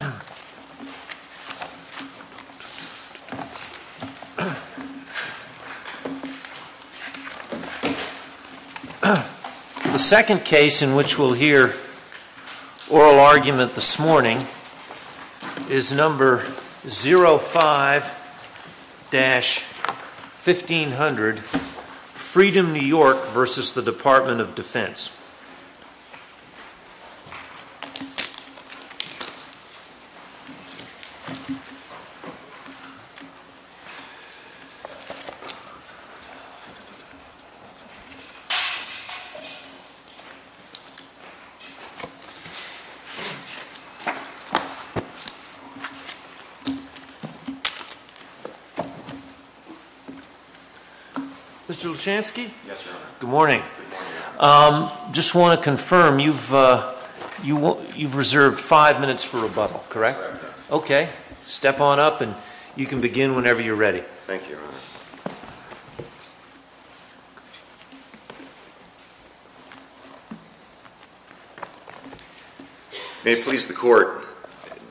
The second case in which we'll hear oral argument this morning is number 05-1500, Freedom New York v. Department of Defense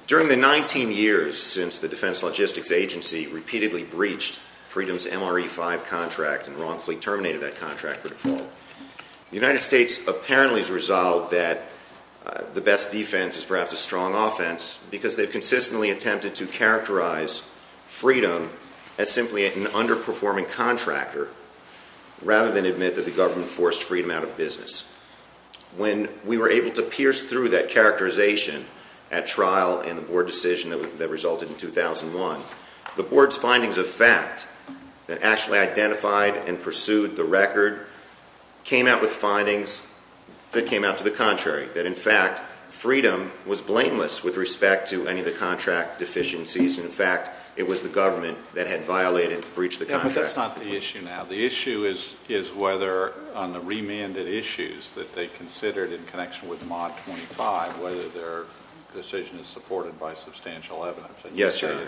During the 19 years since the Defense Logistics Agency repeatedly breached Freedom's MRE-5 contract and wrongfully terminated that contract by default, the United States apparently has resolved that the best defense is perhaps a strong offense because they've consistently attempted to characterize Freedom as simply an underperforming contractor rather than admit that the government forced Freedom out of business. When we were able to pierce through that characterization at trial and the board decision that resulted in 2001, the board's findings of fact that actually identified and pursued the record came out with findings that came out to the contrary, that in fact, Freedom was blameless with respect to any of the contract deficiencies, and in fact, it was the government that had violated and breached the contract. But that's not the issue now. The issue is whether on the remanded issues that they considered in connection with mod 25, whether their decision is supported by substantial evidence. Yes, Your Honor.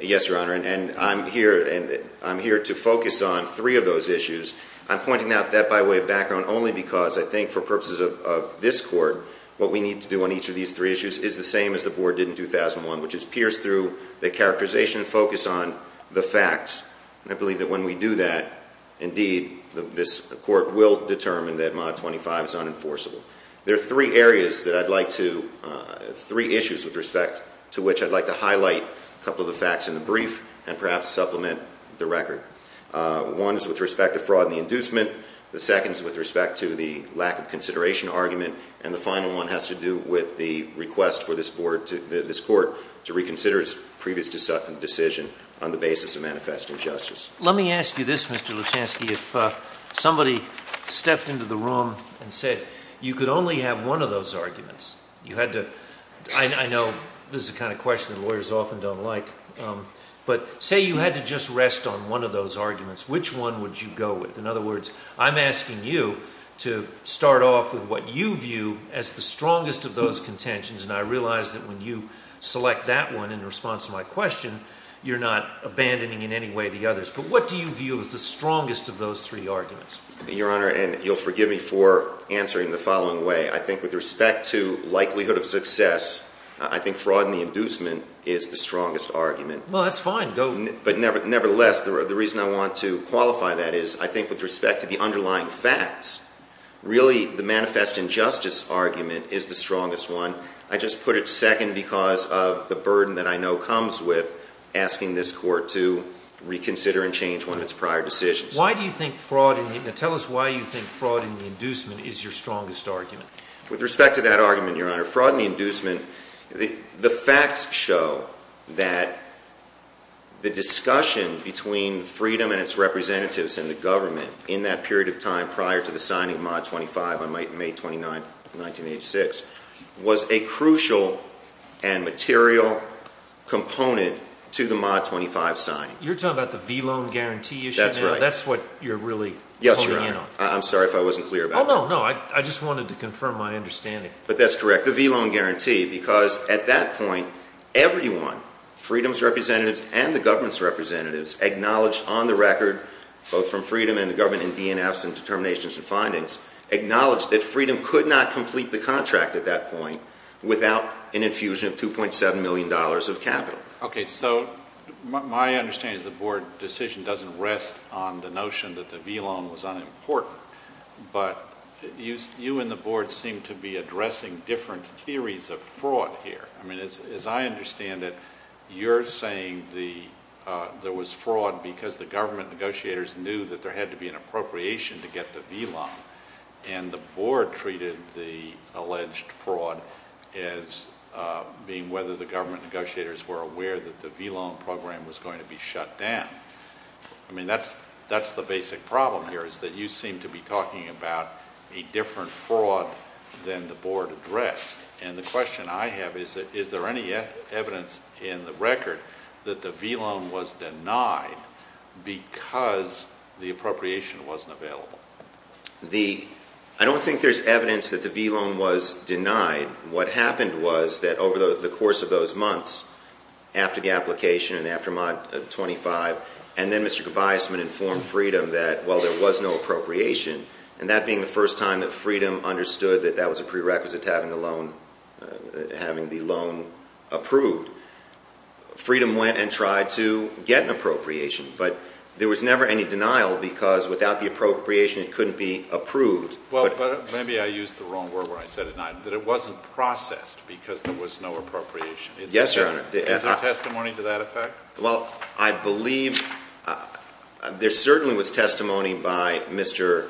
Yes, Your Honor. And I'm here to focus on three of those issues. I'm pointing out that by way of background only because I think for purposes of this court what we need to do on each of these three issues is the same as the board did in 2001, which is pierce through the characterization and focus on the facts. And I believe that when we do that, indeed, this court will determine that mod 25 is unenforceable. There are three areas that I'd like to, three issues with respect to which I'd like to highlight a couple of the facts in the brief and perhaps supplement the record. One is with respect to fraud and the inducement. The second is with respect to the lack of consideration argument. And the final one has to do with the request for this board, this court to reconsider its previous decision on the basis of manifest injustice. Let me ask you this, Mr. Luchansky, if somebody stepped into the room and said you could only have one of those arguments, you had to, I know this is the kind of question that lawyers often don't like, but say you had to just rest on one of those arguments, which one would you go with? In other words, I'm asking you to start off with what you view as the strongest of those contentions and I realize that when you select that one in response to my question, you're not abandoning in any way the others, but what do you view as the strongest of those three arguments? Your Honor, and you'll forgive me for answering the following way, I think with respect to likelihood of success, I think fraud and the inducement is the strongest argument. Well, that's fine, go. But nevertheless, the reason I want to qualify that is I think with respect to the underlying facts, really the manifest injustice argument is the strongest one. I just put it second because of the burden that I know comes with asking this Court to reconsider and change one of its prior decisions. Why do you think fraud and the, now tell us why you think fraud and the inducement is your strongest argument? With respect to that argument, Your Honor, fraud and the inducement, the facts show that the discussion between Freedom and its representatives and the government in that period of time was a crucial and material component to the Mod 25 signing. You're talking about the V-Loan Guarantee issue now? That's right. That's what you're really pointing in on? Yes, Your Honor. I'm sorry if I wasn't clear about that. Oh, no, no. I just wanted to confirm my understanding. But that's correct, the V-Loan Guarantee, because at that point, everyone, Freedom's representatives and the government's representatives, acknowledged on the record, both from Freedom and the government and DNFs and determinations and findings, acknowledged that Freedom could not complete the contract at that point without an infusion of $2.7 million of capital. Okay. So my understanding is the Board decision doesn't rest on the notion that the V-Loan was unimportant, but you and the Board seem to be addressing different theories of fraud here. I mean, as I understand it, you're saying there was fraud because the government negotiators knew that there had to be an appropriation to get the V-Loan, and the Board treated the alleged fraud as being whether the government negotiators were aware that the V-Loan program was going to be shut down. I mean, that's the basic problem here, is that you seem to be talking about a different fraud than the Board addressed. And the question I have is, is there any evidence in the record that the V-Loan was denied because the appropriation wasn't available? I don't think there's evidence that the V-Loan was denied. What happened was that over the course of those months, after the application and after Mod 25, and then Mr. Gervaisman informed Freedom that, while there was no appropriation, and that being the first time that Freedom understood that that was a prerequisite to having the loan approved, Freedom went and tried to get an appropriation. But there was never any denial because, without the appropriation, it couldn't be approved. Well, but maybe I used the wrong word when I said it, that it wasn't processed because there was no appropriation. Yes, Your Honor. Is there testimony to that effect? Well, I believe there certainly was testimony by Mr.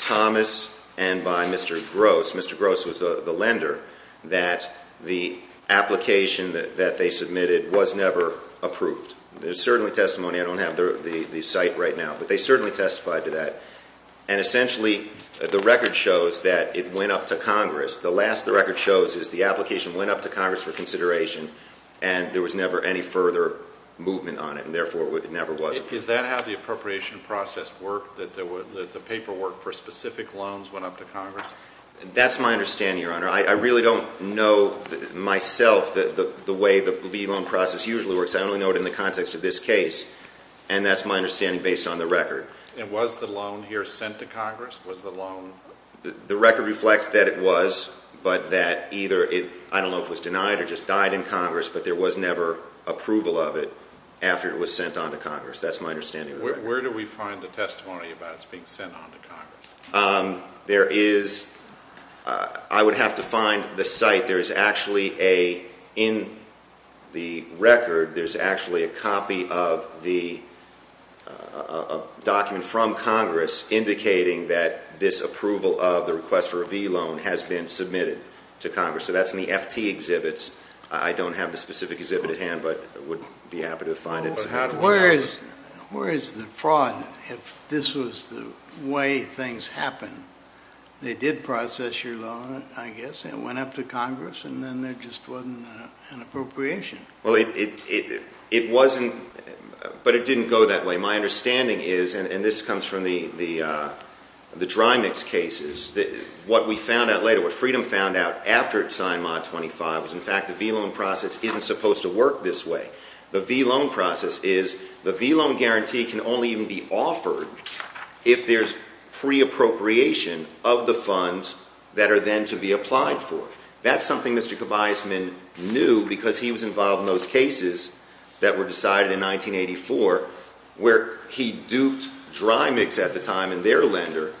Thomas and by Mr. Gross. Mr. Gross was the lender that the application that they submitted was never approved. There's certainly testimony. I don't have the site right now, but they certainly testified to that. And essentially, the record shows that it went up to Congress. The last the record shows is the application went up to Congress for consideration and there was never any further movement on it, and therefore it never was approved. Does that have the appropriation process work, that the paperwork for specific loans went up to Congress? That's my understanding, Your Honor. I really don't know myself the way the V-Loan process usually works. I only know it in the context of this case, and that's my understanding based on the record. And was the loan here sent to Congress, was the loan? The record reflects that it was, but that either it, I don't know if it was denied or just died in Congress, but there was never approval of it after it was sent on to Congress. That's my understanding of the record. Where do we find the testimony about it being sent on to Congress? There is, I would have to find the site. There is actually a, in the record, there's actually a copy of the document from Congress indicating that this approval of the request for a V-Loan has been submitted to Congress. So that's in the FT exhibits. I don't have the specific exhibit at hand, but I would be happy to find it. Where is the fraud if this was the way things happened? They did process your loan, I guess, and it went up to Congress, and then there just wasn't an appropriation. Well, it wasn't, but it didn't go that way. My understanding is, and this comes from the dry mix cases, what we found out later, what Freedom found out after it signed Mod 25 was in fact the V-Loan process isn't supposed to work this way. The V-Loan process is, the V-Loan guarantee can only even be offered if there's free appropriation of the funds that are then to be applied for. That's something Mr. Kobiasman knew because he was involved in those cases that were decided in 1984, where he duped Dry Mix at the time and their lender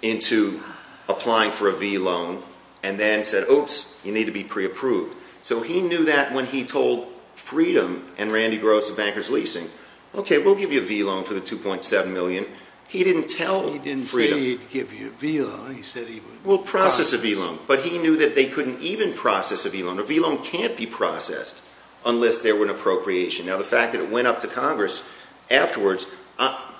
into applying for a V-Loan. And then said, oops, you need to be pre-approved. So he knew that when he told Freedom and Randy Gross of Bankers Leasing, okay, we'll give you a V-Loan for the 2.7 million, he didn't tell Freedom. He didn't say he'd give you a V-Loan, he said he would- We'll process a V-Loan, but he knew that they couldn't even process a V-Loan. A V-Loan can't be processed unless there were an appropriation. Now, the fact that it went up to Congress afterwards,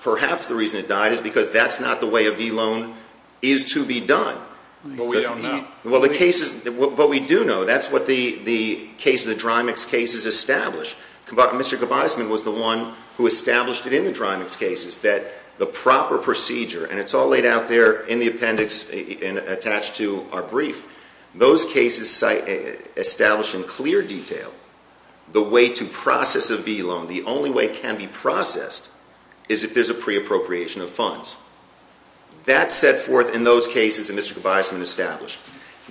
perhaps the reason it died is because that's not the way a V-Loan is to be done. But we don't know. Well, the case is, but we do know, that's what the case of the Dry Mix case has established. Mr. Gaviseman was the one who established it in the Dry Mix cases that the proper procedure, and it's all laid out there in the appendix attached to our brief. Those cases establish in clear detail the way to process a V-Loan. The only way it can be processed is if there's a pre-appropriation of funds. That's set forth in those cases that Mr. Gaviseman established.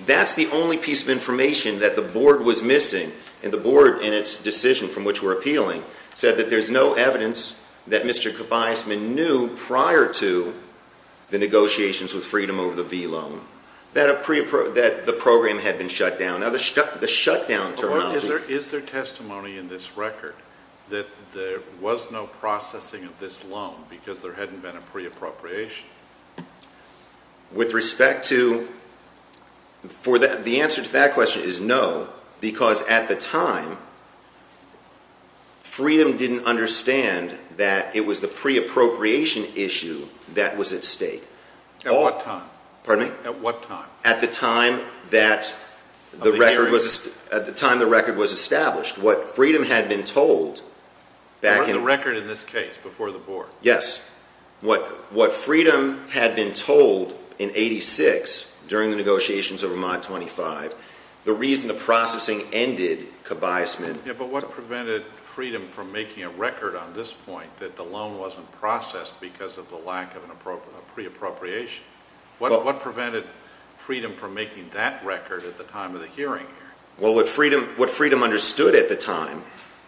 That's the only piece of information that the board was missing, and the board, in its decision from which we're appealing, said that there's no evidence that Mr. Gaviseman knew prior to the negotiations with Freedom over the V-Loan. That the program had been shut down. Now, the shutdown terminology- Is there testimony in this record that there was no processing of this loan because there hadn't been a pre-appropriation? With respect to, the answer to that question is no. Because at the time, Freedom didn't understand that it was the pre-appropriation issue that was at stake. At what time? Pardon me? At what time? At the time that the record was, at the time the record was established. What Freedom had been told back in- The record in this case, before the board. Yes. What Freedom had been told in 86, during the negotiations over Mod 25, the reason the processing ended, Gaviseman- Yeah, but what prevented Freedom from making a record on this point, that the loan wasn't processed because of the lack of a pre-appropriation? What prevented Freedom from making that record at the time of the hearing? Well, what Freedom understood at the time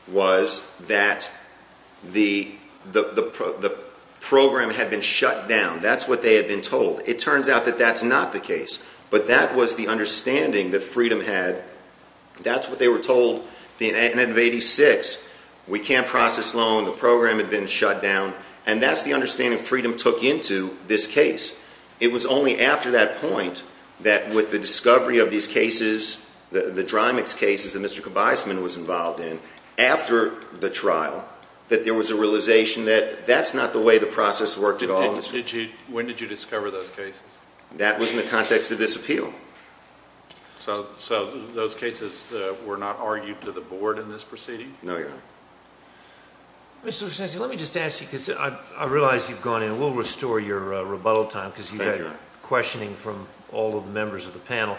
was that the program had been shut down. That's what they had been told. It turns out that that's not the case. But that was the understanding that Freedom had. That's what they were told in 86, we can't process loan, the program had been shut down. And that's the understanding Freedom took into this case. It was only after that point, that with the discovery of these cases, the dry mix cases that Mr. Gaviseman was involved in, after the trial, that there was a realization that that's not the way the process worked at all. When did you discover those cases? That was in the context of this appeal. So those cases were not argued to the board in this proceeding? No, Your Honor. Mr. Cianci, let me just ask you, because I realize you've gone in. We'll restore your rebuttal time, because you've had questioning from all of the members of the panel.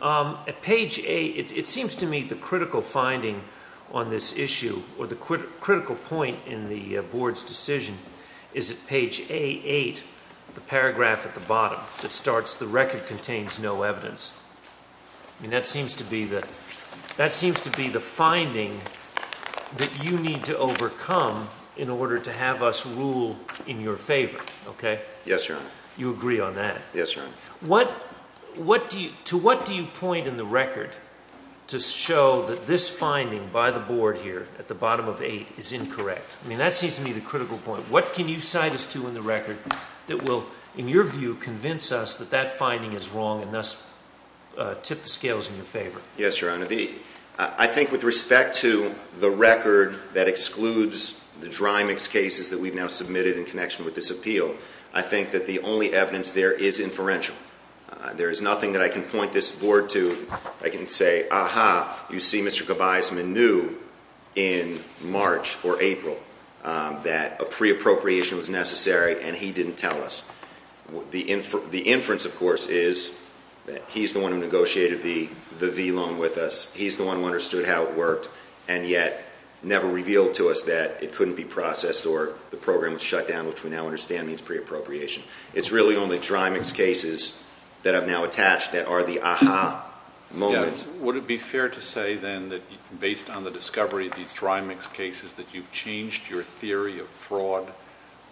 At page eight, it seems to me the critical finding on this issue, or the critical point in the board's decision, is at page A8, the paragraph at the bottom that starts, the record contains no evidence. And that seems to be the finding that you need to overcome in order to have us rule in your favor, okay? Yes, Your Honor. You agree on that? Yes, Your Honor. To what do you point in the record to show that this finding by the board here, at the bottom of eight, is incorrect? I mean, that seems to me the critical point. What can you cite us to in the record that will, in your view, convince us that that finding is wrong, and thus tip the scales in your favor? Yes, Your Honor, I think with respect to the record that excludes the dry mix cases that we've now submitted in connection with this appeal, I think that the only evidence there is inferential. There is nothing that I can point this board to. I can say, aha, you see Mr. Gabaisman knew in March or April that a pre-appropriation was necessary, and he didn't tell us. The inference, of course, is that he's the one who negotiated the V loan with us. He's the one who understood how it worked, and yet never revealed to us that it couldn't be processed or the program was shut down, which we now understand means pre-appropriation. It's really on the dry mix cases that I've now attached that are the aha moment. Would it be fair to say then, based on the discovery of these dry mix cases, that you've changed your theory of fraud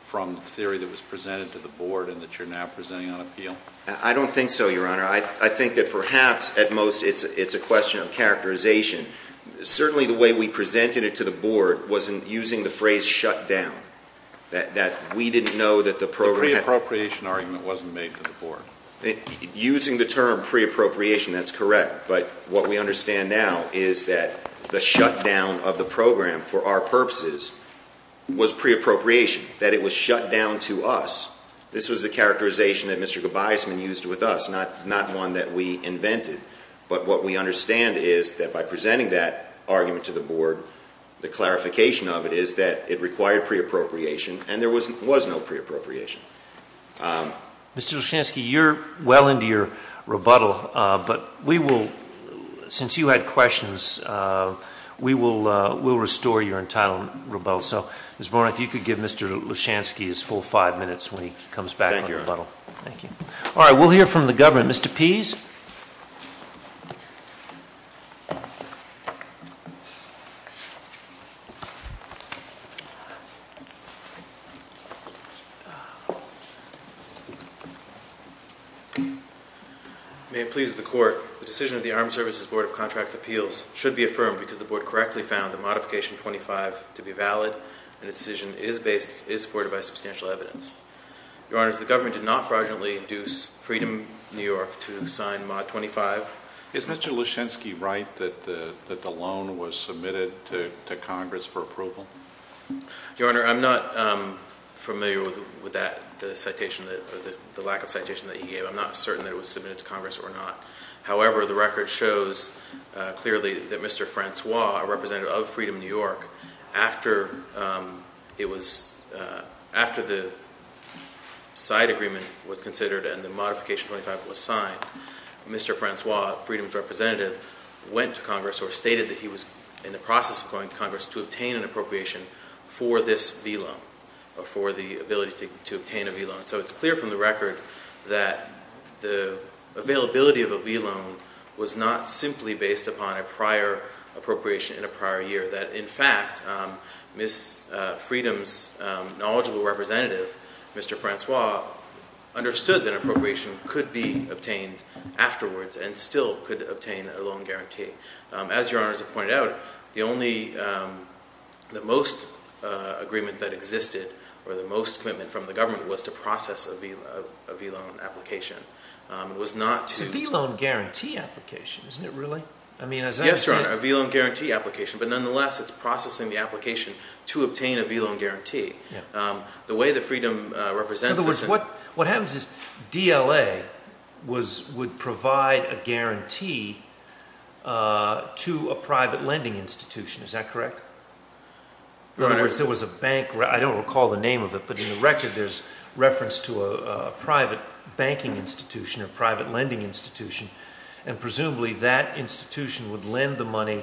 from the theory that was presented to the board, and that you're now presenting on appeal? I don't think so, Your Honor. I think that perhaps, at most, it's a question of characterization. Certainly, the way we presented it to the board wasn't using the phrase shut down, that we didn't know that the program- The pre-appropriation argument wasn't made to the board. Using the term pre-appropriation, that's correct. But what we understand now is that the shutdown of the program for our purposes was pre-appropriation, that it was shut down to us. This was the characterization that Mr. Gabaisman used with us, not one that we invented. But what we understand is that by presenting that argument to the board, the clarification of it is that it required pre-appropriation, and there was no pre-appropriation. Mr. Lushansky, you're well into your rebuttal, but we will, since you had questions, we will restore your entitlement rebuttal. So, Ms. Boren, if you could give Mr. Lushansky his full five minutes when he comes back on rebuttal. Thank you, Your Honor. Thank you. Mr. Pease? May it please the court. The decision of the Armed Services Board of Contract Appeals should be affirmed because the board correctly found the modification 25 to be valid. And the decision is supported by substantial evidence. Your Honors, the government did not fraudulently induce Freedom New York to sign mod 25. Is Mr. Lushansky right that the loan was submitted to Congress for approval? Your Honor, I'm not familiar with that, the lack of citation that he gave. I'm not certain that it was submitted to Congress or not. However, the record shows clearly that Mr. Francois, a representative of Freedom New York, after the side agreement was considered and the modification 25 was signed, Mr. Francois, Freedom's representative, went to Congress or stated that he was in the process of going to Congress to obtain an appropriation for this V loan. Or for the ability to obtain a V loan. So it's clear from the record that the availability of a V loan was not simply based upon a prior appropriation in a prior year. That in fact, Ms. Freedom's knowledgeable representative, Mr. Francois, understood that appropriation could be obtained afterwards and still could obtain a loan guarantee. As Your Honors have pointed out, the only, the most agreement that existed, or the most commitment from the government was to process a V loan application. It was not to- It's a V loan guarantee application, isn't it really? I mean, as I understand- Yes, Your Honor, a V loan guarantee application. But nonetheless, it's processing the application to obtain a V loan guarantee. The way that Freedom represents this- In other words, what happens is DLA would provide a guarantee to a private lending institution, is that correct? Your Honor- In other words, there was a bank, I don't recall the name of it, but in the record there's reference to a private banking institution or private lending institution. And presumably, that institution would lend the money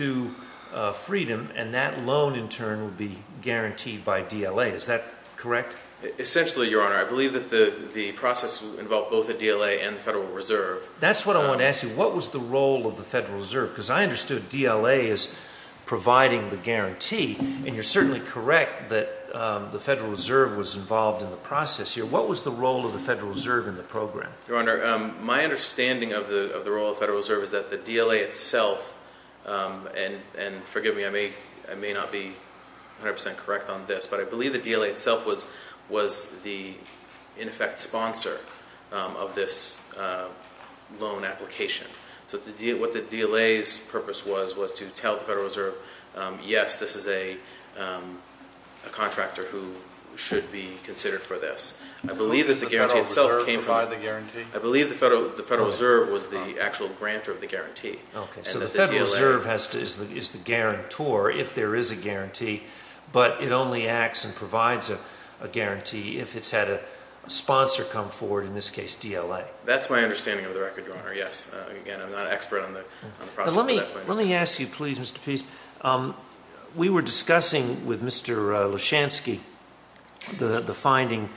to Freedom and that loan in turn would be guaranteed by DLA, is that correct? Essentially, Your Honor, I believe that the process involved both the DLA and the Federal Reserve. That's what I wanted to ask you, what was the role of the Federal Reserve? Because I understood DLA as providing the guarantee, and you're certainly correct that the Federal Reserve was involved in the process here. What was the role of the Federal Reserve in the program? Your Honor, my understanding of the role of the Federal Reserve is that the DLA itself, and forgive me, I may not be 100% correct on this. But I believe the DLA itself was the, in effect, sponsor of this loan application. So what the DLA's purpose was, was to tell the Federal Reserve, yes, this is a contractor who should be considered for this. I believe that the guarantee itself came from, I believe the Federal Reserve was the actual grantor of the guarantee. Okay, so the Federal Reserve is the guarantor if there is a guarantee, but it only acts and provides a guarantee if it's had a sponsor come forward, in this case DLA. That's my understanding of the record, Your Honor, yes. Again, I'm not an expert on the process, but that's my understanding. Let me ask you, please, Mr. Pease, we were discussing with Mr. Leshansky the finding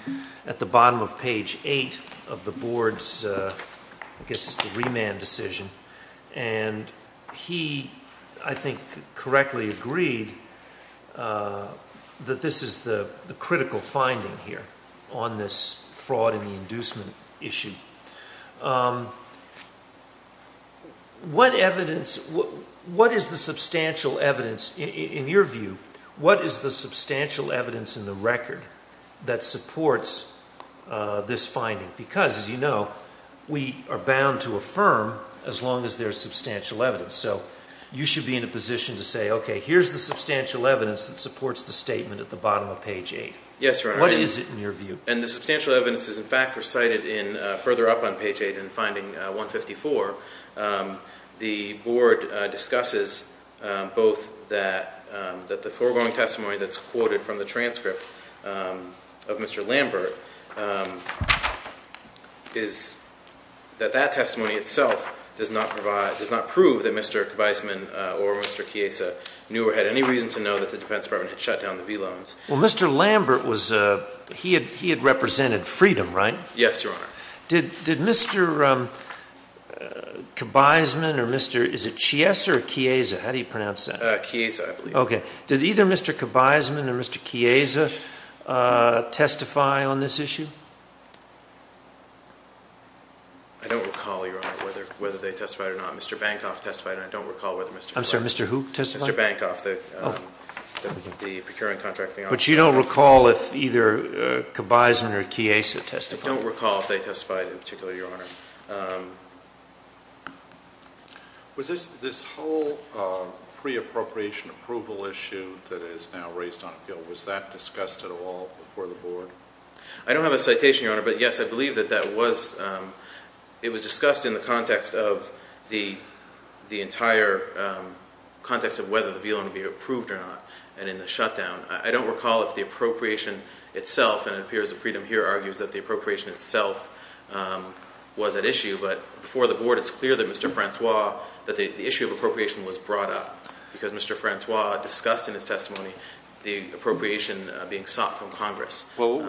at the bottom of page eight of the board's, I guess it's the remand decision, and he, I think, correctly agreed that this is the critical finding here on this fraud and the inducement issue. What evidence, what is the substantial evidence, in your view, what is the substantial evidence in the record that supports this finding? Because, as you know, we are bound to affirm as long as there's substantial evidence. So you should be in a position to say, okay, here's the substantial evidence that supports the statement at the bottom of page eight. Yes, Your Honor. What is it in your view? And the substantial evidence is, in fact, recited in, further up on page eight in finding 154. The board discusses both that the foregoing testimony that's quoted from the transcript of Mr. Lambert is that that testimony itself does not provide, does not prove that Mr. Kviseman or Mr. Kiesa knew or had any reason to know that the defense department had shut down the V loans. Well, Mr. Lambert was, he had represented freedom, right? Yes, Your Honor. Did Mr. Kviseman or Mr., is it Chiesa or Kiesa, how do you pronounce that? Kiesa, I believe. Okay. Did either Mr. Kviseman or Mr. Kiesa testify on this issue? I don't recall, Your Honor, whether they testified or not. Mr. Bankoff testified and I don't recall whether Mr. Kviseman. I'm sorry, Mr. who testified? Mr. Bankoff, the procuring contracting officer. But you don't recall if either Kviseman or Kiesa testified? I don't recall if they testified in particular, Your Honor. Was this whole pre-appropriation approval issue that is now raised on the bill, was that discussed at all before the board? I don't have a citation, Your Honor, but yes, I believe that that was, it was discussed in the context of the entire context of whether the violin would be approved or not, and in the shutdown. I don't recall if the appropriation itself, and it appears that Freedom here argues that the appropriation itself was at issue, but before the board, it's clear that Mr. Francois, that the issue of appropriation was brought up. Because Mr. Francois discussed in his testimony the appropriation being sought from Congress. Well,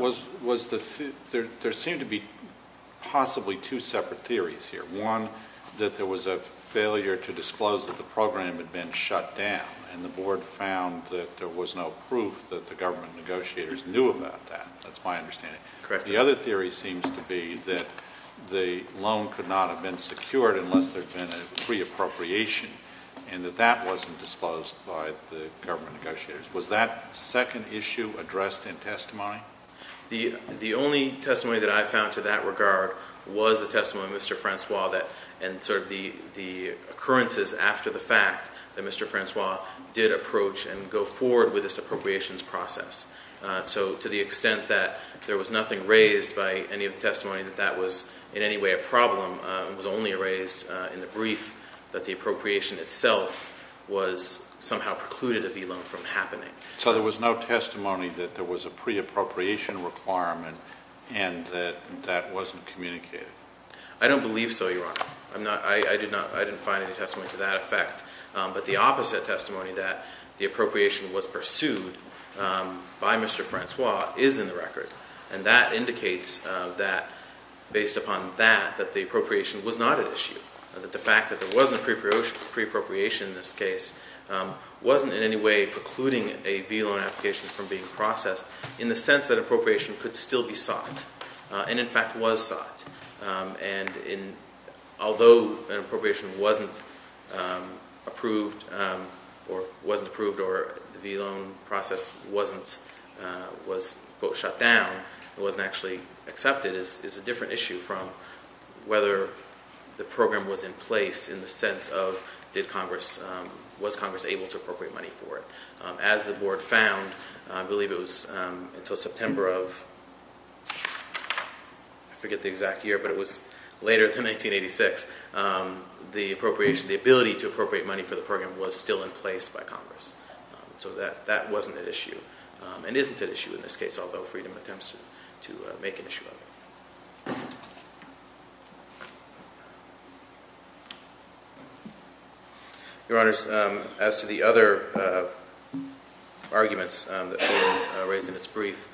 there seemed to be possibly two separate theories here. One, that there was a failure to disclose that the program had been shut down, and the board found that there was no proof that the government negotiators knew about that. That's my understanding. Correct. The other theory seems to be that the loan could not have been secured unless there'd been a pre-appropriation, and that that wasn't disclosed by the government negotiators. Was that second issue addressed in testimony? The only testimony that I found to that regard was the testimony of Mr. Francois, and sort of the occurrences after the fact that Mr. Francois did approach and go forward with this appropriations process. So to the extent that there was nothing raised by any of the testimony that that was in any way a problem, it was only raised in the brief that the appropriation itself was somehow precluded a v-loan from happening. So there was no testimony that there was a pre-appropriation requirement and that that wasn't communicated? I don't believe so, Your Honor. I didn't find any testimony to that effect. But the opposite testimony, that the appropriation was pursued by Mr. Francois, is in the record. And that indicates that, based upon that, that the appropriation was not an issue, that the fact that there wasn't a pre-appropriation in this case wasn't in any way precluding a v-loan application from being processed, in the sense that appropriation could still be sought, and in fact was sought. And although an appropriation wasn't approved or the v-loan process was, quote, shut down, it wasn't actually accepted, is a different issue from whether the program was in place in the sense of, was Congress able to appropriate money for it? As the board found, I believe it was until September of, I forget the exact year, but it was later than 1986, the appropriation, the ability to appropriate money for the program was still in place by Congress. So that wasn't an issue, and isn't an issue in this case, although Freedom attempts to make an issue of it. Your Honors, as to the other arguments that were raised in its brief,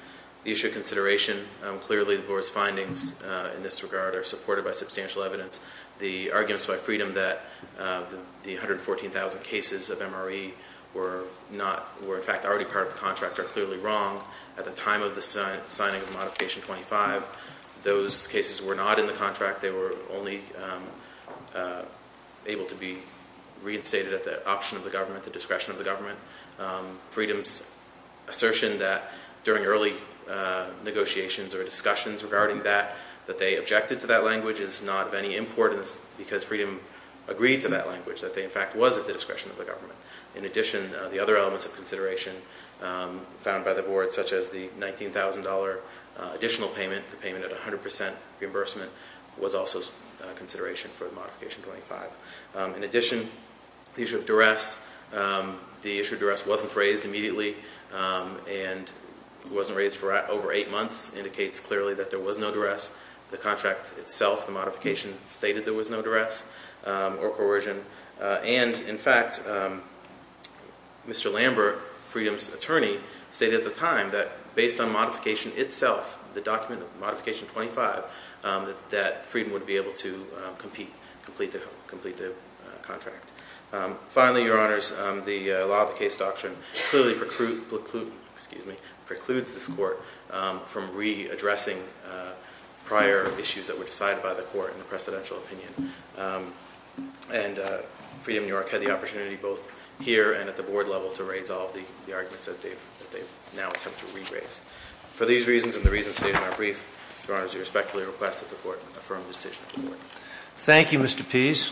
the issue of consideration, clearly the board's findings in this regard are supported by substantial evidence. The arguments by Freedom that the 114,000 cases of MRE were not, were in fact already part of the contract are clearly wrong. At the time of the signing of modification 25, those cases were not in the contract. They were only able to be reinstated at the option of the government, the discretion of the government. Freedom's assertion that during early negotiations or discussions regarding that, that they objected to that language is not of any importance because Freedom agreed to that language, that they in fact was at the discretion of the government. In addition, the other elements of consideration found by the board, such as the $19,000 additional payment, the payment at 100% reimbursement, was also consideration for the modification 25. In addition, the issue of duress, the issue of duress wasn't raised immediately, and it wasn't raised for over eight months, indicates clearly that there was no duress. The contract itself, the modification, stated there was no duress or coercion. And in fact, Mr. Lambert, Freedom's attorney, stated at the time that based on modification itself, the document of modification 25, that Freedom would be able to complete the contract. Finally, Your Honors, the law of the case doctrine clearly precludes this court from re-addressing prior issues that were decided by the court in a precedential opinion. And Freedom New York had the opportunity, both here and at the board level, to raise all of the arguments that they've now attempted to re-raise. For these reasons and the reasons stated in our brief, Your Honors, we respectfully request that the court affirm the decision of the board. Thank you, Mr. Pease.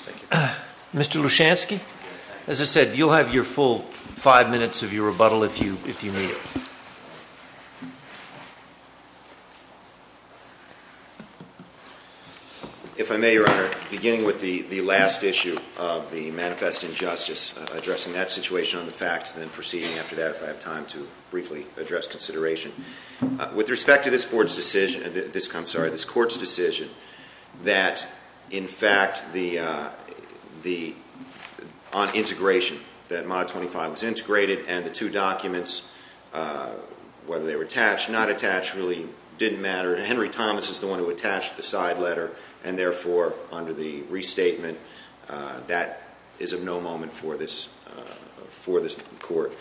Mr. Lushansky? As I said, you'll have your full five minutes of your rebuttal if you need it. If I may, Your Honor, beginning with the last issue of the Manifest Injustice, addressing that situation on the facts, and then proceeding after that if I have time to briefly address consideration. With respect to this board's decision, this, I'm sorry, this court's decision that, in fact, the, on integration, that mod 25 was integrated and the two documents whether they were attached, not attached, really didn't matter. Henry Thomas is the one who attached the side letter, and therefore, under the restatement, that is of no moment for this court.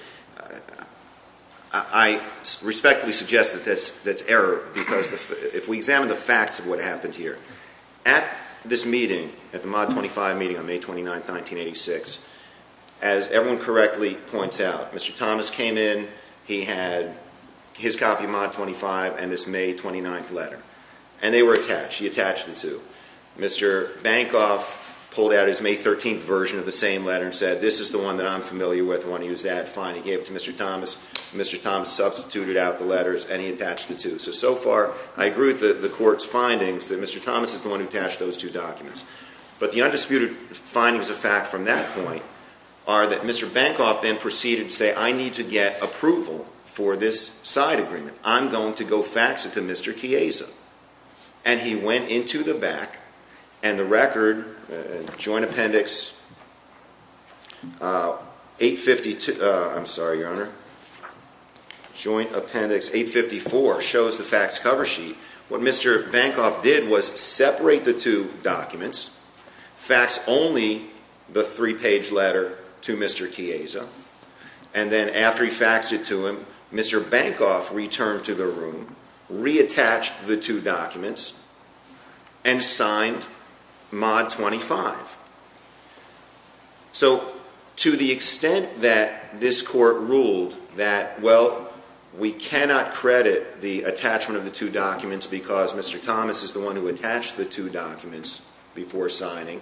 I respectfully suggest that that's error, because if we examine the facts of what happened here, at this meeting, at the mod 25 meeting on May 29th, 1986, as everyone correctly points out, Mr. Thomas came in. He had his copy of mod 25 and this May 29th letter, and they were attached. He attached the two. Mr. Bankoff pulled out his May 13th version of the same letter and said, this is the one that I'm familiar with. I want to use that. Fine. He gave it to Mr. Thomas. Mr. Thomas substituted out the letters, and he attached the two. So, so far, I agree with the court's findings that Mr. Thomas is the one who attached those two documents. But the undisputed findings of fact from that point are that Mr. Bankoff then proceeded to say, I need to get approval for this side agreement. I'm going to go fax it to Mr. Chiesa. And he went into the back, and the record, Joint Appendix 852, I'm sorry, Your Honor. Joint Appendix 854 shows the fax cover sheet. What Mr. Bankoff did was separate the two documents, fax only the three-page letter to Mr. Chiesa, and then after he faxed it to him, Mr. Bankoff returned to the room, reattached the two documents, and signed mod 25. So to the extent that this court ruled that, well, we cannot credit the attachment of the two documents because Mr. Thomas is the one who attached the two documents before signing,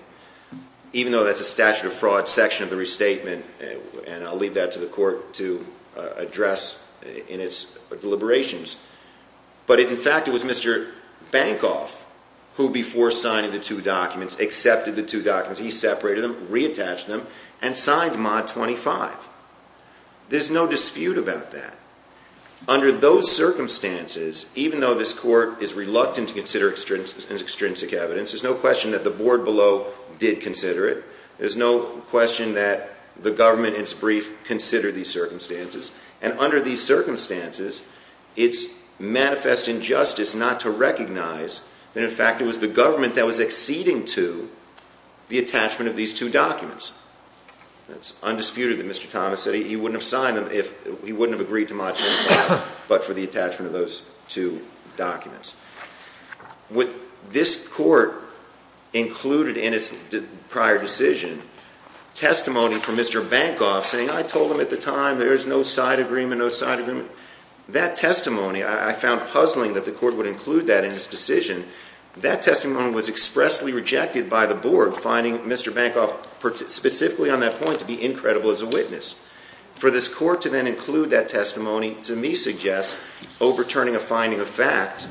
even though that's a statute of fraud section of the restatement, and I'll leave that to the court to address in its deliberations. But in fact, it was Mr. Bankoff who, before signing the two documents, accepted the two documents. He separated them, reattached them, and signed mod 25. There's no dispute about that. Under those circumstances, even though this court is reluctant to consider extrinsic evidence, there's no question that the board below did consider it. There's no question that the government, in its brief, considered these circumstances. And under these circumstances, it's manifest injustice not to recognize that, in fact, it was the government that was acceding to the attachment of these two documents. It's undisputed that Mr. Thomas said he wouldn't have signed them if he wouldn't have agreed to mod 25, but for the attachment of those two documents. With this court included in its prior decision, testimony from Mr. Bankoff saying, I told him at the time there is no side agreement, no side agreement. That testimony, I found puzzling that the court would include that in its decision. That testimony was expressly rejected by the board, finding Mr. Bankoff specifically on that point to be incredible as a witness. For this court to then include that testimony, to me suggests overturning a finding of fact.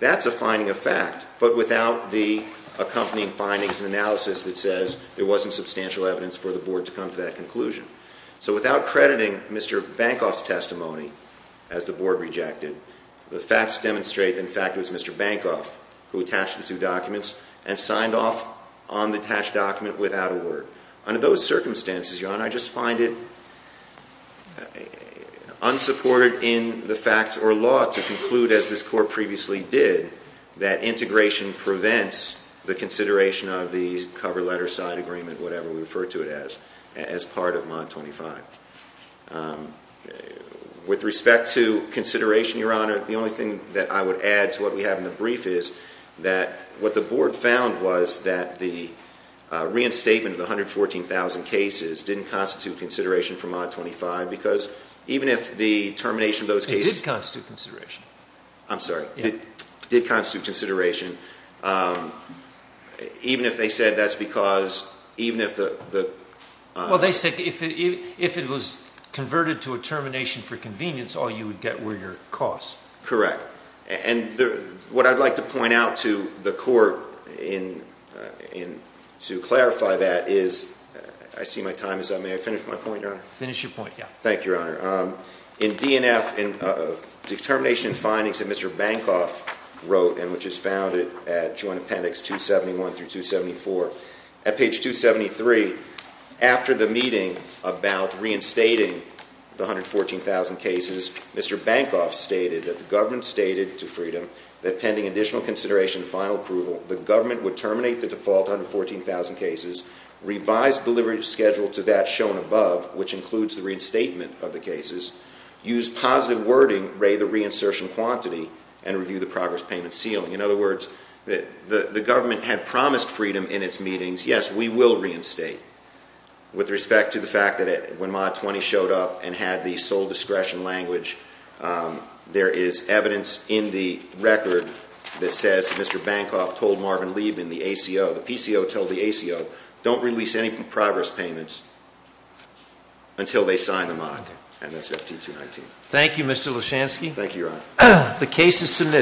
That's a finding of fact, but without the accompanying findings and analysis that says there wasn't substantial evidence for the board to come to that conclusion. So without crediting Mr. Bankoff's testimony, as the board rejected, the facts demonstrate that, in fact, it was Mr. Bankoff who attached the two documents and signed off on the attached document without a word. Under those circumstances, Your Honor, I just find it unsupported in the facts or law to conclude, as this court previously did, that integration prevents the consideration of the cover letter, side agreement, whatever we refer to it as, as part of Mod 25. With respect to consideration, Your Honor, the only thing that I would add to what we have in the brief is that what the board found was that the reinstatement of the 114,000 cases didn't constitute consideration for Mod 25 because even if the termination of those cases It did constitute consideration. I'm sorry. It did constitute consideration, even if they said that's because, even if the Well, they said if it was converted to a termination for convenience, all you would get were your costs. Correct. And what I'd like to point out to the court to clarify that is, I see my time is up. May I finish my point, Your Honor? Finish your point, yeah. Thank you, Your Honor. In DNF, in the termination findings that Mr. Bankoff wrote, and which is found at Joint Appendix 271 through 274, at page 273, after the meeting about reinstating the 114,000 cases, Mr. Bankoff stated that the government stated to Freedom that pending additional consideration and final approval, the government would terminate the default 114,000 cases, revise the delivery schedule to that shown above, which includes the reinstatement of the cases, use positive wording, ray the reinsertion quantity, and review the progress payment ceiling. In other words, the government had promised Freedom in its meetings, yes, we will reinstate, with respect to the fact that when Mod 20 showed up and had the sole discretion language, there is evidence in the record that says, Mr. Bankoff told Marvin Liebman, the ACO, the PCO told the ACO, don't release any progress payments until they sign the mod, and that's FT 219. Thank you, Mr. Leshansky. Thank you, Your Honor.